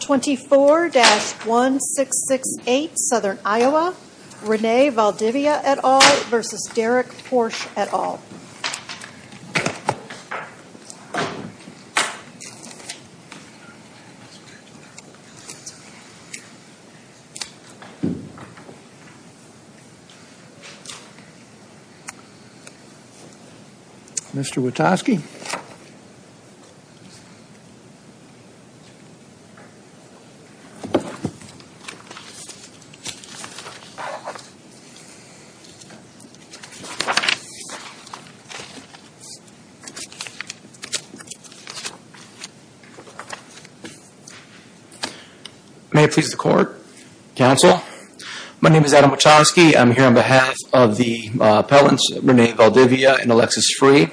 24-1668 Southern Iowa, Rene Valdivia et al. v. Derek Porsch et al. Mr. Witaski Mr. Witaski May it please the Court. Counsel. My name is Adam Witaski. I'm here on behalf of the appellants Rene Valdivia and Alexis Free.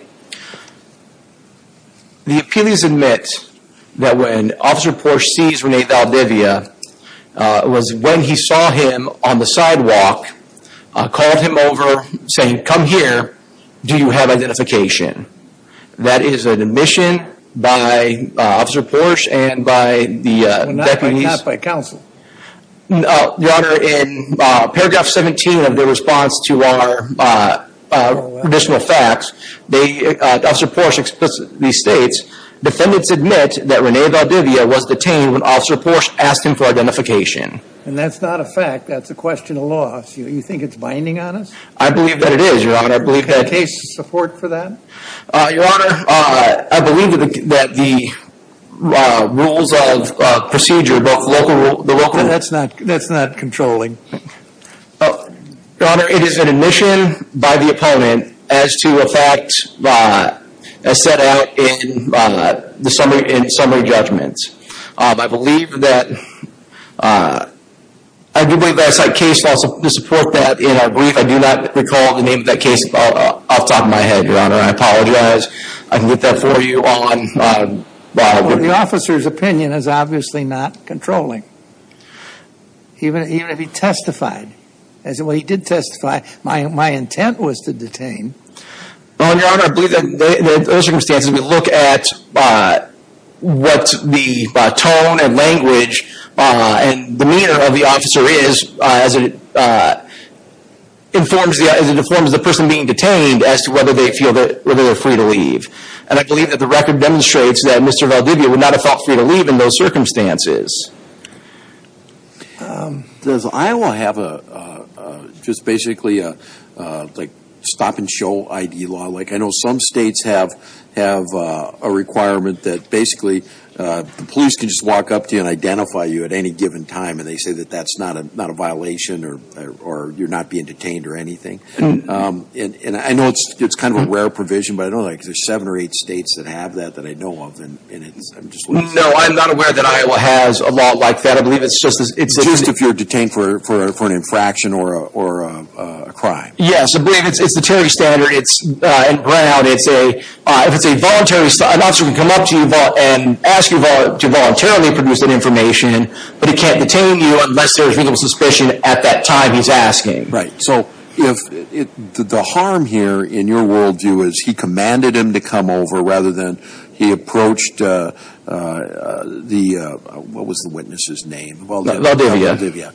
The appealees admit that when Officer Porsche sees Rene Valdivia, it was when he saw him on the sidewalk, called him over saying, come here, do you have identification? That is an admission by Officer Porsche and by the deputies. Not by counsel. Your Honor, in paragraph 17 of the response to our additional facts, Officer Porsche explicitly states, defendants admit that Rene Valdivia was detained when Officer Porsche asked him for identification. And that's not a fact, that's a question of law. Do you think it's binding on us? I believe that it is, Your Honor. Do you have case support for that? Your Honor, I believe that the rules of procedure, both local rules... That's not controlling. Your Honor, it is an admission by the opponent as to a fact set out in summary judgment. I believe that... I do believe that I cite case law to support that in our brief. I do not recall the name of that case off the top of my head, Your Honor. I apologize. I can get that for you on... Well, the officer's opinion is obviously not controlling. Even if he testified. As in, well, he did testify. My intent was to detain. Well, Your Honor, I believe that in those circumstances, we look at what the tone and language and demeanor of the officer is as it informs the person being detained as to whether they feel that they're free to leave. And I believe that the record demonstrates that Mr. Valdivia would not have felt free to leave in those circumstances. Does Iowa have just basically a stop-and-show ID law? I know some states have a requirement that basically the police can just walk up to you and identify you at any given time, and they say that that's not a violation or you're not being detained or anything. And I know it's kind of a rare provision, but I don't know if there's seven or eight states that have that that I know of. No, I'm not aware that Iowa has a law like that. Just if you're detained for an infraction or a crime. Yes, I believe it's the Terry standard. In Brown, if it's a voluntary... An officer can come up to you and ask you to voluntarily produce that information, but he can't detain you unless there's reasonable suspicion at that time he's asking. Right. So the harm here in your world view is he commanded him to come over rather than he approached the... What was the witness's name? Valdivia.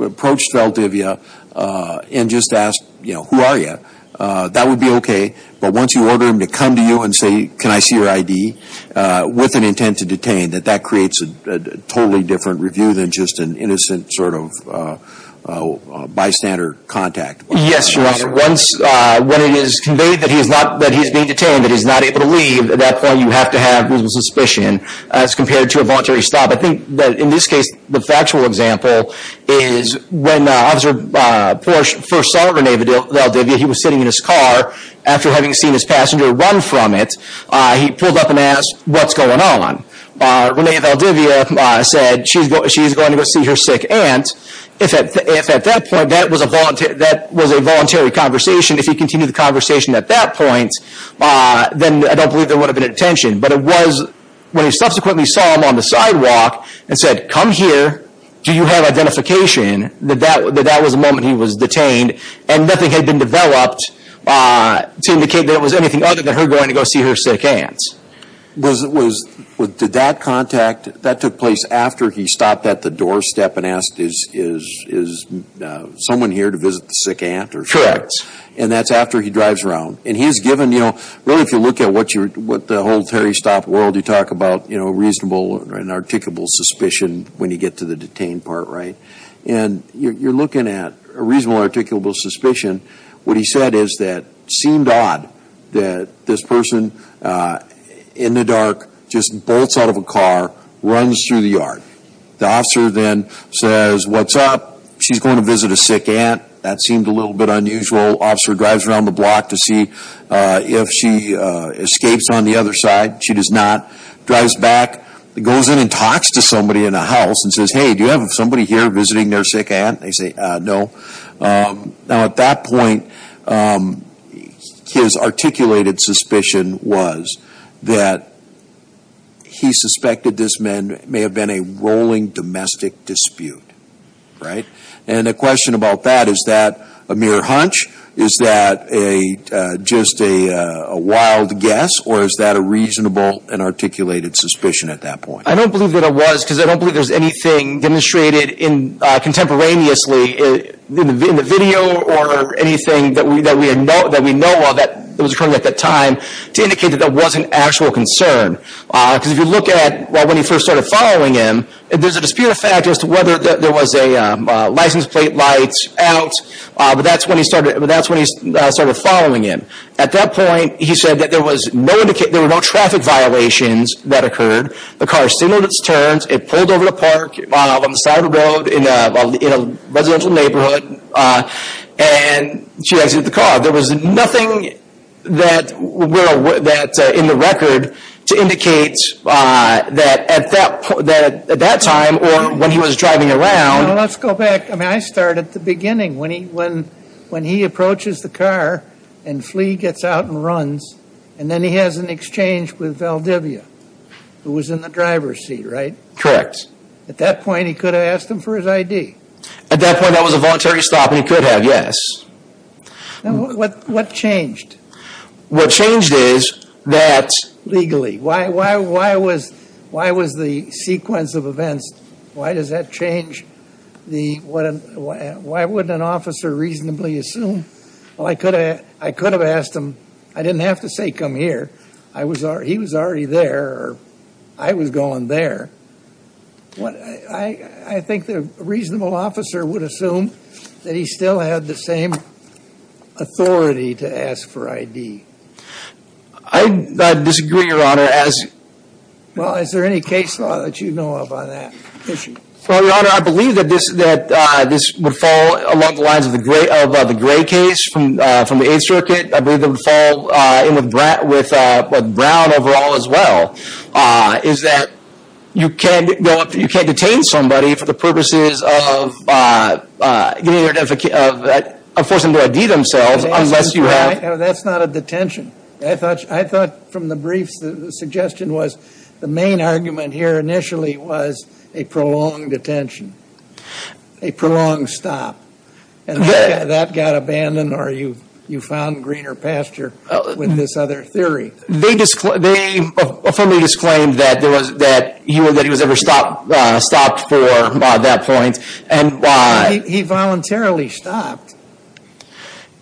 Approached Valdivia and just asked, you know, who are you? That would be okay, but once you order him to come to you and say, can I see your ID, with an intent to detain, that that creates a totally different review than just an innocent sort of bystander contact. Yes, Your Honor. Once it is conveyed that he's being detained, that he's not able to leave, at that point you have to have reasonable suspicion as compared to a voluntary stop. I think that in this case, the factual example is when Officer Porsche first saw Rene Valdivia, he was sitting in his car after having seen his passenger run from it. He pulled up and asked, what's going on? Rene Valdivia said, she's going to go see her sick aunt. If at that point that was a voluntary conversation, if he continued the conversation at that point, then I don't believe there would have been a detention. But it was when he subsequently saw him on the sidewalk and said, come here, do you have identification, that that was the moment he was detained. And nothing had been developed to indicate that it was anything other than her going to go see her sick aunt. Did that contact, that took place after he stopped at the doorstep and asked, is someone here to visit the sick aunt? Correct. And that's after he drives around. And he's given, you know, really if you look at what the whole Terry Stott world, you talk about reasonable and articulable suspicion when you get to the detained part, right? And you're looking at a reasonable and articulable suspicion. What he said is that it seemed odd that this person in the dark just bolts out of a car, runs through the yard. The officer then says, what's up? She's going to visit a sick aunt. That seemed a little bit unusual. Officer drives around the block to see if she escapes on the other side. She does not. Drives back, goes in and talks to somebody in the house and says, hey, do you have somebody here visiting their sick aunt? They say, no. Now at that point, his articulated suspicion was that he suspected this man may have been a rolling domestic dispute, right? And the question about that, is that a mere hunch? Is that just a wild guess? Or is that a reasonable and articulated suspicion at that point? I don't believe that it was because I don't believe there's anything demonstrated contemporaneously in the video or anything that we know of that was occurring at that time to indicate that there was an actual concern. Because if you look at when he first started following him, there's a dispute effect as to whether there was a license plate light out. But that's when he started following him. At that point, he said that there were no traffic violations that occurred. The car signaled its turns. It pulled over the park on the side of the road in a residential neighborhood. And she exited the car. There was nothing in the record to indicate that at that time or when he was driving around. Well, let's go back. I mean, I start at the beginning when he approaches the car and flea gets out and runs. And then he has an exchange with Valdivia, who was in the driver's seat, right? Correct. At that point, he could have asked him for his ID. At that point, that was a voluntary stop and he could have, yes. Now, what changed? What changed is that legally. Why was the sequence of events, why does that change? Why wouldn't an officer reasonably assume? Well, I could have asked him. I didn't have to say, come here. He was already there or I was going there. I think that a reasonable officer would assume that he still had the same authority to ask for ID. I disagree, Your Honor. Well, is there any case law that you know of on that issue? Well, Your Honor, I believe that this would fall along the lines of the Gray case from the Eighth Circuit. I believe it would fall in with Brown overall as well. Is that you can't detain somebody for the purposes of forcing them to ID themselves unless you have. That's not a detention. I thought from the briefs the suggestion was the main argument here initially was a prolonged detention, a prolonged stop. And that got abandoned or you found greener pasture with this other theory. They disclaimed that he was ever stopped for at that point. He voluntarily stopped.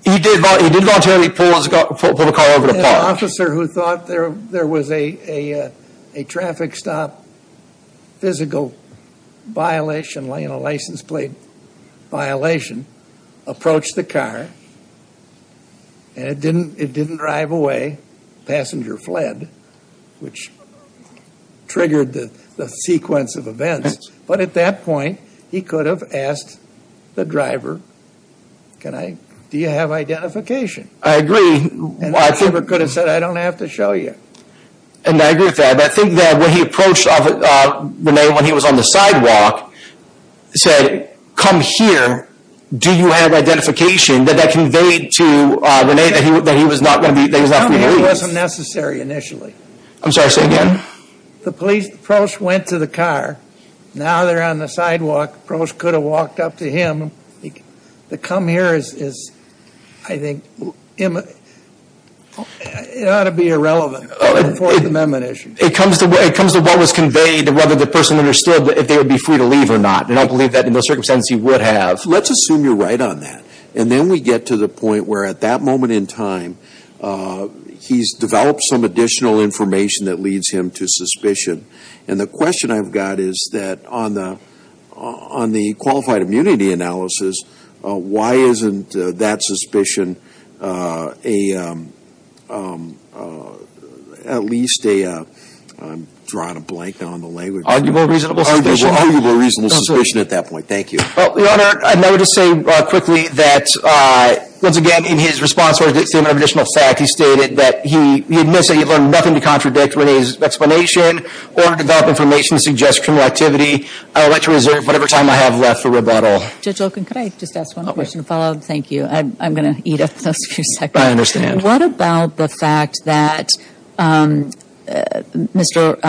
He did voluntarily pull the car over the park. An officer who thought there was a traffic stop physical violation, a license plate violation, approached the car and it didn't drive away. The passenger fled, which triggered the sequence of events. But at that point, he could have asked the driver, do you have identification? I agree. And the driver could have said, I don't have to show you. And I agree with that. But I think that when he approached Rene when he was on the sidewalk, said, come here, do you have identification, that that conveyed to Rene that he was not going to be released. Come here wasn't necessary initially. I'm sorry, say again. The police approached, went to the car. Now they're on the sidewalk. The police could have walked up to him. The come here is, I think, it ought to be irrelevant. It comes to what was conveyed and whether the person understood if they would be free to leave or not. And I believe that in those circumstances he would have. Let's assume you're right on that. And then we get to the point where at that moment in time, he's developed some additional information that leads him to suspicion. And the question I've got is that on the qualified immunity analysis, why isn't that suspicion a, at least a, I'm drawing a blank on the language. Arguable reasonable suspicion. Arguable reasonable suspicion at that point. Thank you. Well, Your Honor, I would just say quickly that, once again, in his response to additional fact, he stated that he admits that he learned nothing to contradict Renee's explanation or develop information to suggest criminal activity. I would like to reserve whatever time I have left for rebuttal. Judge Olken, could I just ask one question to follow up? Thank you. I'm going to eat up those few seconds. I understand. What about the fact that Mr.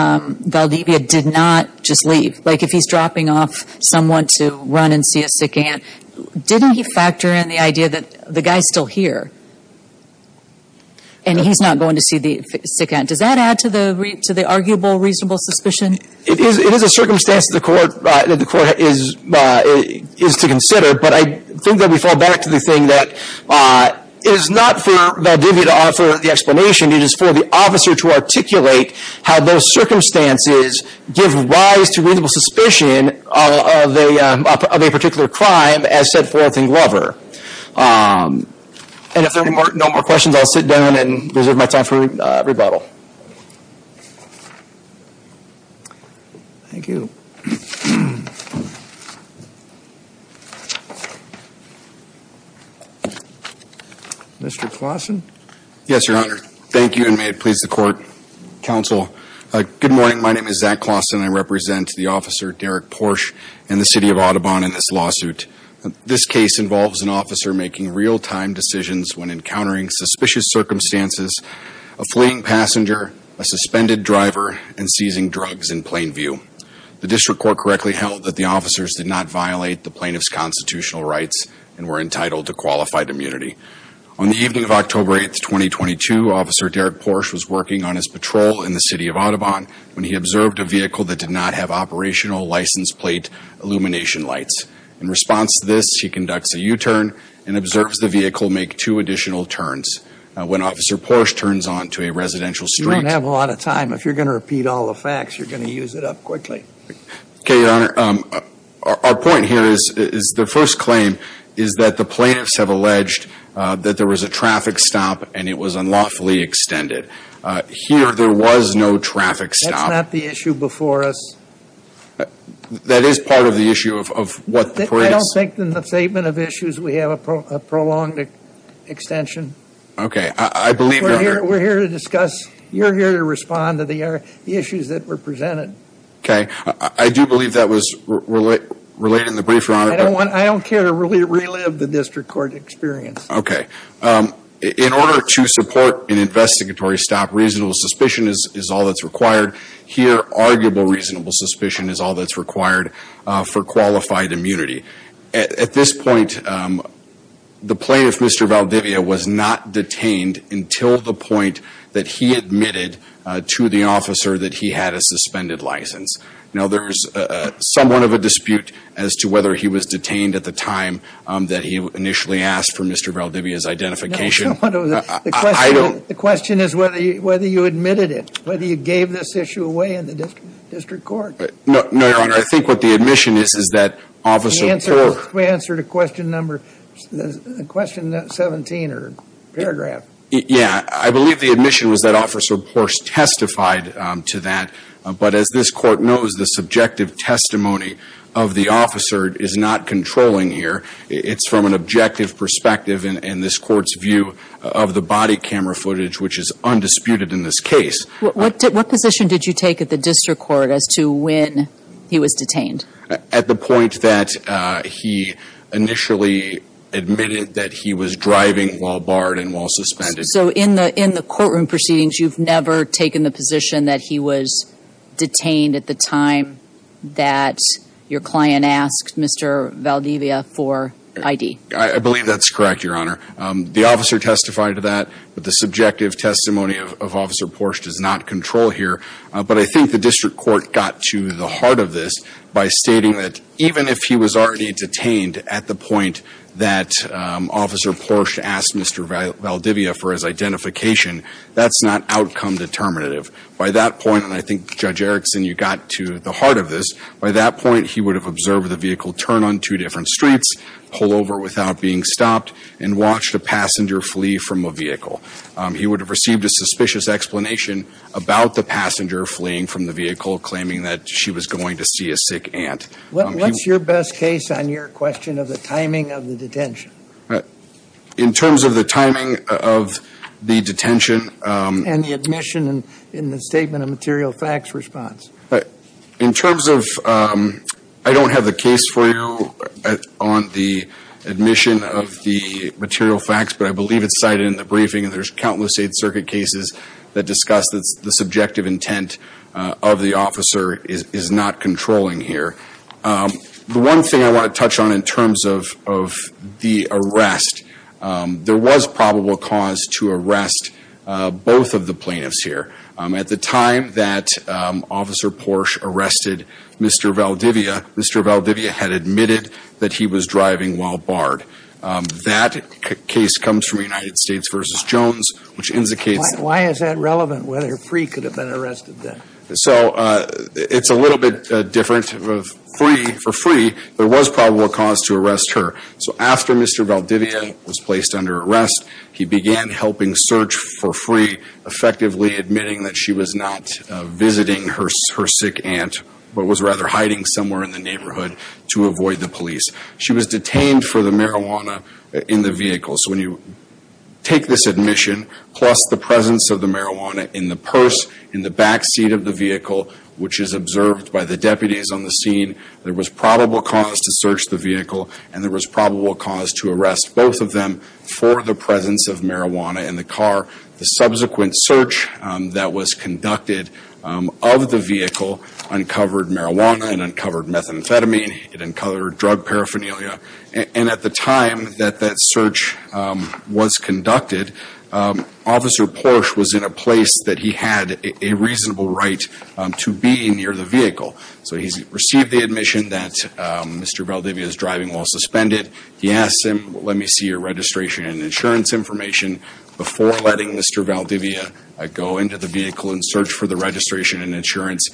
Valdivia did not just leave? Like, if he's dropping off someone to run and see a sick aunt, didn't he factor in the idea that the guy's still here? And he's not going to see the sick aunt. Does that add to the arguable reasonable suspicion? It is a circumstance that the court is to consider. But I think that we fall back to the thing that it is not for Valdivia to offer the explanation. It is for the officer to articulate how those circumstances give rise to reasonable suspicion of a particular crime as set forth in Glover. And if there are no more questions, I'll sit down and reserve my time for rebuttal. Thank you. Mr. Claussen? Yes, Your Honor. Thank you, and may it please the court, counsel. Good morning. My name is Zach Claussen. I represent the officer, Derek Porsche, in the city of Audubon in this lawsuit. This case involves an officer making real-time decisions when encountering suspicious circumstances, a fleeing passenger, a suspended driver, and seizing drugs in plain view. The district court correctly held that the officers did not violate the plaintiff's constitutional rights and were entitled to qualified immunity. On the evening of October 8, 2022, Officer Derek Porsche was working on his patrol in the city of Audubon when he observed a vehicle that did not have operational license plate illumination lights. In response to this, he conducts a U-turn and observes the vehicle make two additional turns. When Officer Porsche turns onto a residential street. You don't have a lot of time. If you're going to repeat all the facts, you're going to use it up quickly. Okay, Your Honor. Our point here is the first claim is that the plaintiffs have alleged that there was a traffic stop and it was unlawfully extended. Here, there was no traffic stop. That's not the issue before us. That is part of the issue of what the police... I don't think in the statement of issues we have a prolonged extension. Okay, I believe... We're here to discuss. You're here to respond to the issues that were presented. Okay, I do believe that was related in the brief, Your Honor. I don't care to relive the district court experience. Okay. In order to support an investigatory stop, reasonable suspicion is all that's required. Here, arguable reasonable suspicion is all that's required for qualified immunity. At this point, the plaintiff, Mr. Valdivia, was not detained until the point that he admitted to the officer that he had a suspended license. Now, there's somewhat of a dispute as to whether he was detained at the time that he initially asked for Mr. Valdivia's identification. I don't... The question is whether you admitted it, whether you gave this issue away in the district court. No, Your Honor. I think what the admission is is that Officer Poore... The answer to question number 17 or paragraph. Yeah. I believe the admission was that Officer Poore testified to that. But as this court knows, the subjective testimony of the officer is not controlling here. It's from an objective perspective in this court's view of the body camera footage, which is undisputed in this case. What position did you take at the district court as to when he was detained? At the point that he initially admitted that he was driving while barred and while suspended. So in the courtroom proceedings, you've never taken the position that he was detained at the time that your client asked Mr. Valdivia for ID? I believe that's correct, Your Honor. The officer testified to that, but the subjective testimony of Officer Poore does not control here. But I think the district court got to the heart of this by stating that even if he was already detained at the point that Officer Poore asked Mr. Valdivia for his identification, that's not outcome determinative. By that point, and I think, Judge Erickson, you got to the heart of this. By that point, he would have observed the vehicle turn on two different streets, pull over without being stopped, and watched a passenger flee from a vehicle. He would have received a suspicious explanation about the passenger fleeing from the vehicle, claiming that she was going to see a sick aunt. What's your best case on your question of the timing of the detention? In terms of the timing of the detention. And the admission in the statement of material facts response. In terms of, I don't have the case for you on the admission of the material facts, but I believe it's cited in the briefing. And there's countless state circuit cases that discuss the subjective intent of the officer is not controlling here. The one thing I want to touch on in terms of the arrest, there was probable cause to arrest both of the plaintiffs here. At the time that Officer Porsche arrested Mr. Valdivia, Mr. Valdivia had admitted that he was driving while barred. That case comes from United States v. Jones, which indicates. Why is that relevant, whether Free could have been arrested then? So, it's a little bit different. Free, for Free, there was probable cause to arrest her. So, after Mr. Valdivia was placed under arrest, he began helping search for Free. Effectively admitting that she was not visiting her sick aunt, but was rather hiding somewhere in the neighborhood to avoid the police. She was detained for the marijuana in the vehicle. So, when you take this admission, plus the presence of the marijuana in the purse, in the backseat of the vehicle, which is observed by the deputies on the scene. There was probable cause to search the vehicle and there was probable cause to arrest both of them for the presence of marijuana in the car. The subsequent search that was conducted of the vehicle uncovered marijuana and uncovered methamphetamine. It uncovered drug paraphernalia. And at the time that that search was conducted, Officer Porsche was in a place that he had a reasonable right to be near the vehicle. So, he's received the admission that Mr. Valdivia is driving while suspended. He asks him, let me see your registration and insurance information. Before letting Mr. Valdivia go into the vehicle and search for the registration and insurance,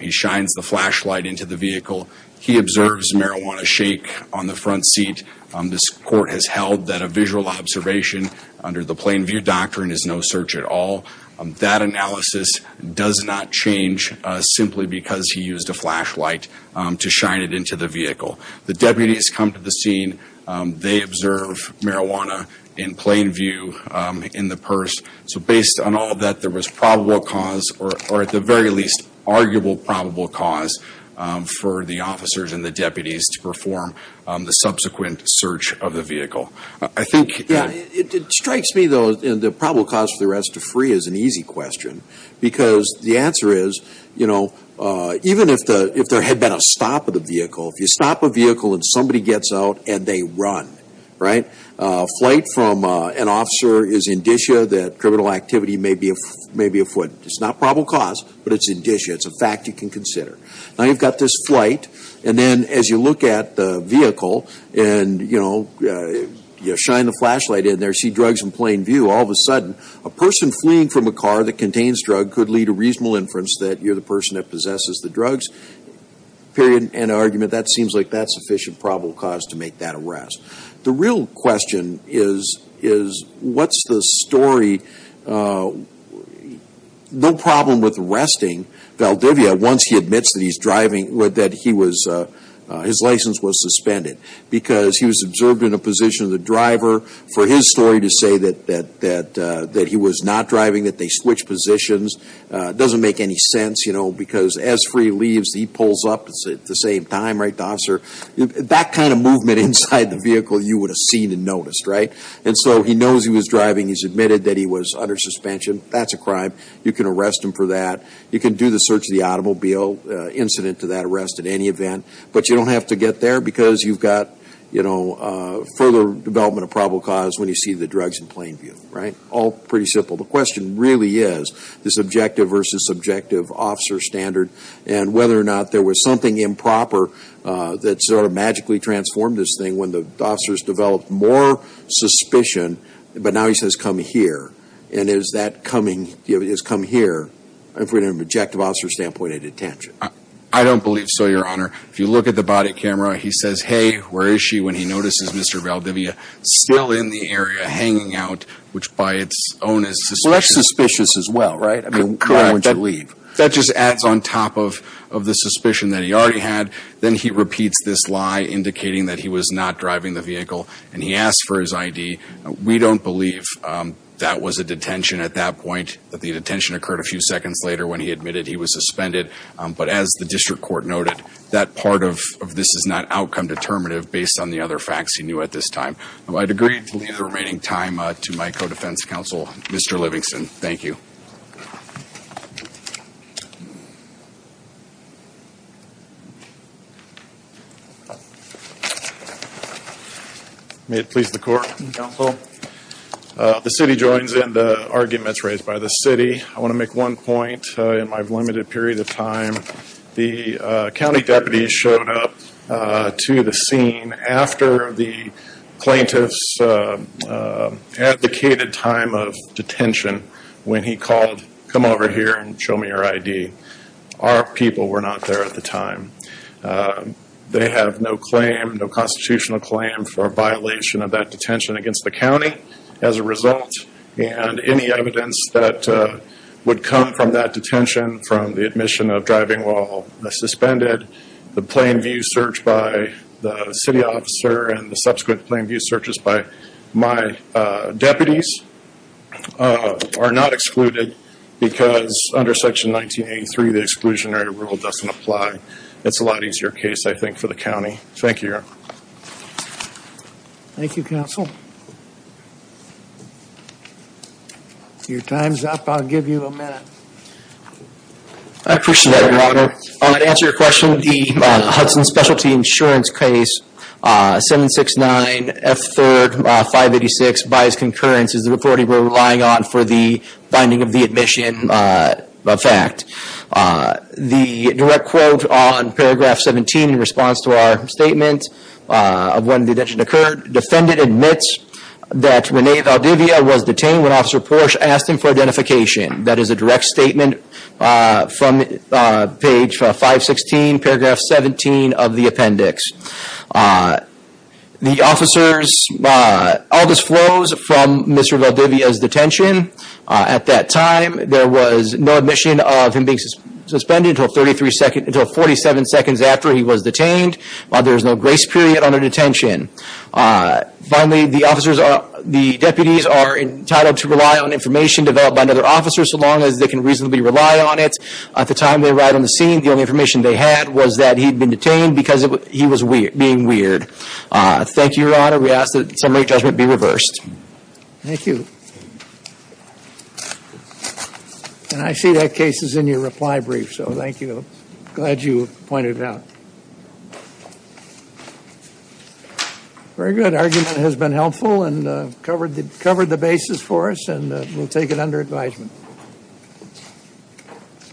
he shines the flashlight into the vehicle. He observes marijuana shake on the front seat. This court has held that a visual observation under the Plain View Doctrine is no search at all. That analysis does not change simply because he used a flashlight to shine it into the vehicle. The deputies come to the scene. They observe marijuana in plain view in the purse. So, based on all of that, there was probable cause or at the very least, arguable probable cause for the officers and the deputies to perform the subsequent search of the vehicle. It strikes me though, the probable cause for the arrest of free is an easy question. Because the answer is, you know, even if there had been a stop of the vehicle, if you stop a vehicle and somebody gets out and they run, right? A flight from an officer is indicia that criminal activity may be afoot. It's not probable cause, but it's indicia. It's a fact you can consider. Now, you've got this flight. And then as you look at the vehicle and, you know, you shine the flashlight in there, see drugs in plain view. All of a sudden, a person fleeing from a car that contains drugs could lead to reasonable inference that you're the person that possesses the drugs. Period. And argument that seems like that's sufficient probable cause to make that arrest. The real question is, what's the story? No problem with arresting Valdivia once he admits that he's driving, that he was, his license was suspended. Because he was observed in a position of the driver for his story to say that he was not driving, that they switched positions. It doesn't make any sense, you know, because as free leaves, he pulls up at the same time, right, officer? That kind of movement inside the vehicle, you would have seen and noticed, right? And so he knows he was driving. He's admitted that he was under suspension. That's a crime. You can arrest him for that. You can do the search of the automobile incident to that arrest at any event. But you don't have to get there because you've got, you know, further development of probable cause when you see the drugs in plain view. Right? All pretty simple. The question really is this objective versus subjective officer standard. And whether or not there was something improper that sort of magically transformed this thing when the officers developed more suspicion. But now he says, come here. And is that coming, you know, has come here from an objective officer standpoint at detention? I don't believe so, Your Honor. If you look at the body camera, he says, hey, where is she when he notices Mr. Valdivia still in the area hanging out, which by its own is suspicious. Well, that's suspicious as well, right? Correct. That just adds on top of the suspicion that he already had. Then he repeats this lie indicating that he was not driving the vehicle. And he asked for his ID. We don't believe that was a detention at that point, that the detention occurred a few seconds later when he admitted he was suspended. But as the district court noted, that part of this is not outcome determinative based on the other facts he knew at this time. I'd agree to leave the remaining time to my co-defense counsel, Mr. Livingston. Thank you. May it please the court. Counsel. The city joins in the arguments raised by the city. I want to make one point in my limited period of time. The county deputy showed up to the scene after the plaintiff's advocated time of detention when he called, come over here and show me your ID. Our people were not there at the time. They have no claim, no constitutional claim for a violation of that detention against the county as a result. And any evidence that would come from that detention from the admission of driving while suspended, the plain view search by the city officer and the subsequent plain view searches by my deputies are not excluded because under section 1983 the exclusionary rule doesn't apply. It's a lot easier case, I think, for the county. Thank you. Thank you, counsel. Your time's up. I'll give you a minute. I appreciate that, Your Honor. To answer your question, the Hudson Specialty Insurance Case 769F3-586, by its concurrence, is the authority we're relying on for the finding of the admission fact. The direct quote on paragraph 17 in response to our statement of when the detention occurred, defendant admits that Rene Valdivia was detained when Officer Porsche asked him for identification. That is a direct statement from page 516, paragraph 17 of the appendix. The officers all disclosed from Mr. Valdivia's detention. At that time, there was no admission of him being suspended until 47 seconds after he was detained. There is no grace period under detention. Finally, the deputies are entitled to rely on information developed by another officer so long as they can reasonably rely on it. At the time they arrived on the scene, the only information they had was that he'd been detained because he was being weird. Thank you, Your Honor. We ask that the summary judgment be reversed. Thank you. And I see that case is in your reply brief, so thank you. Glad you pointed it out. Very good. Argument has been helpful and covered the basis for us, and we'll take it under advisement.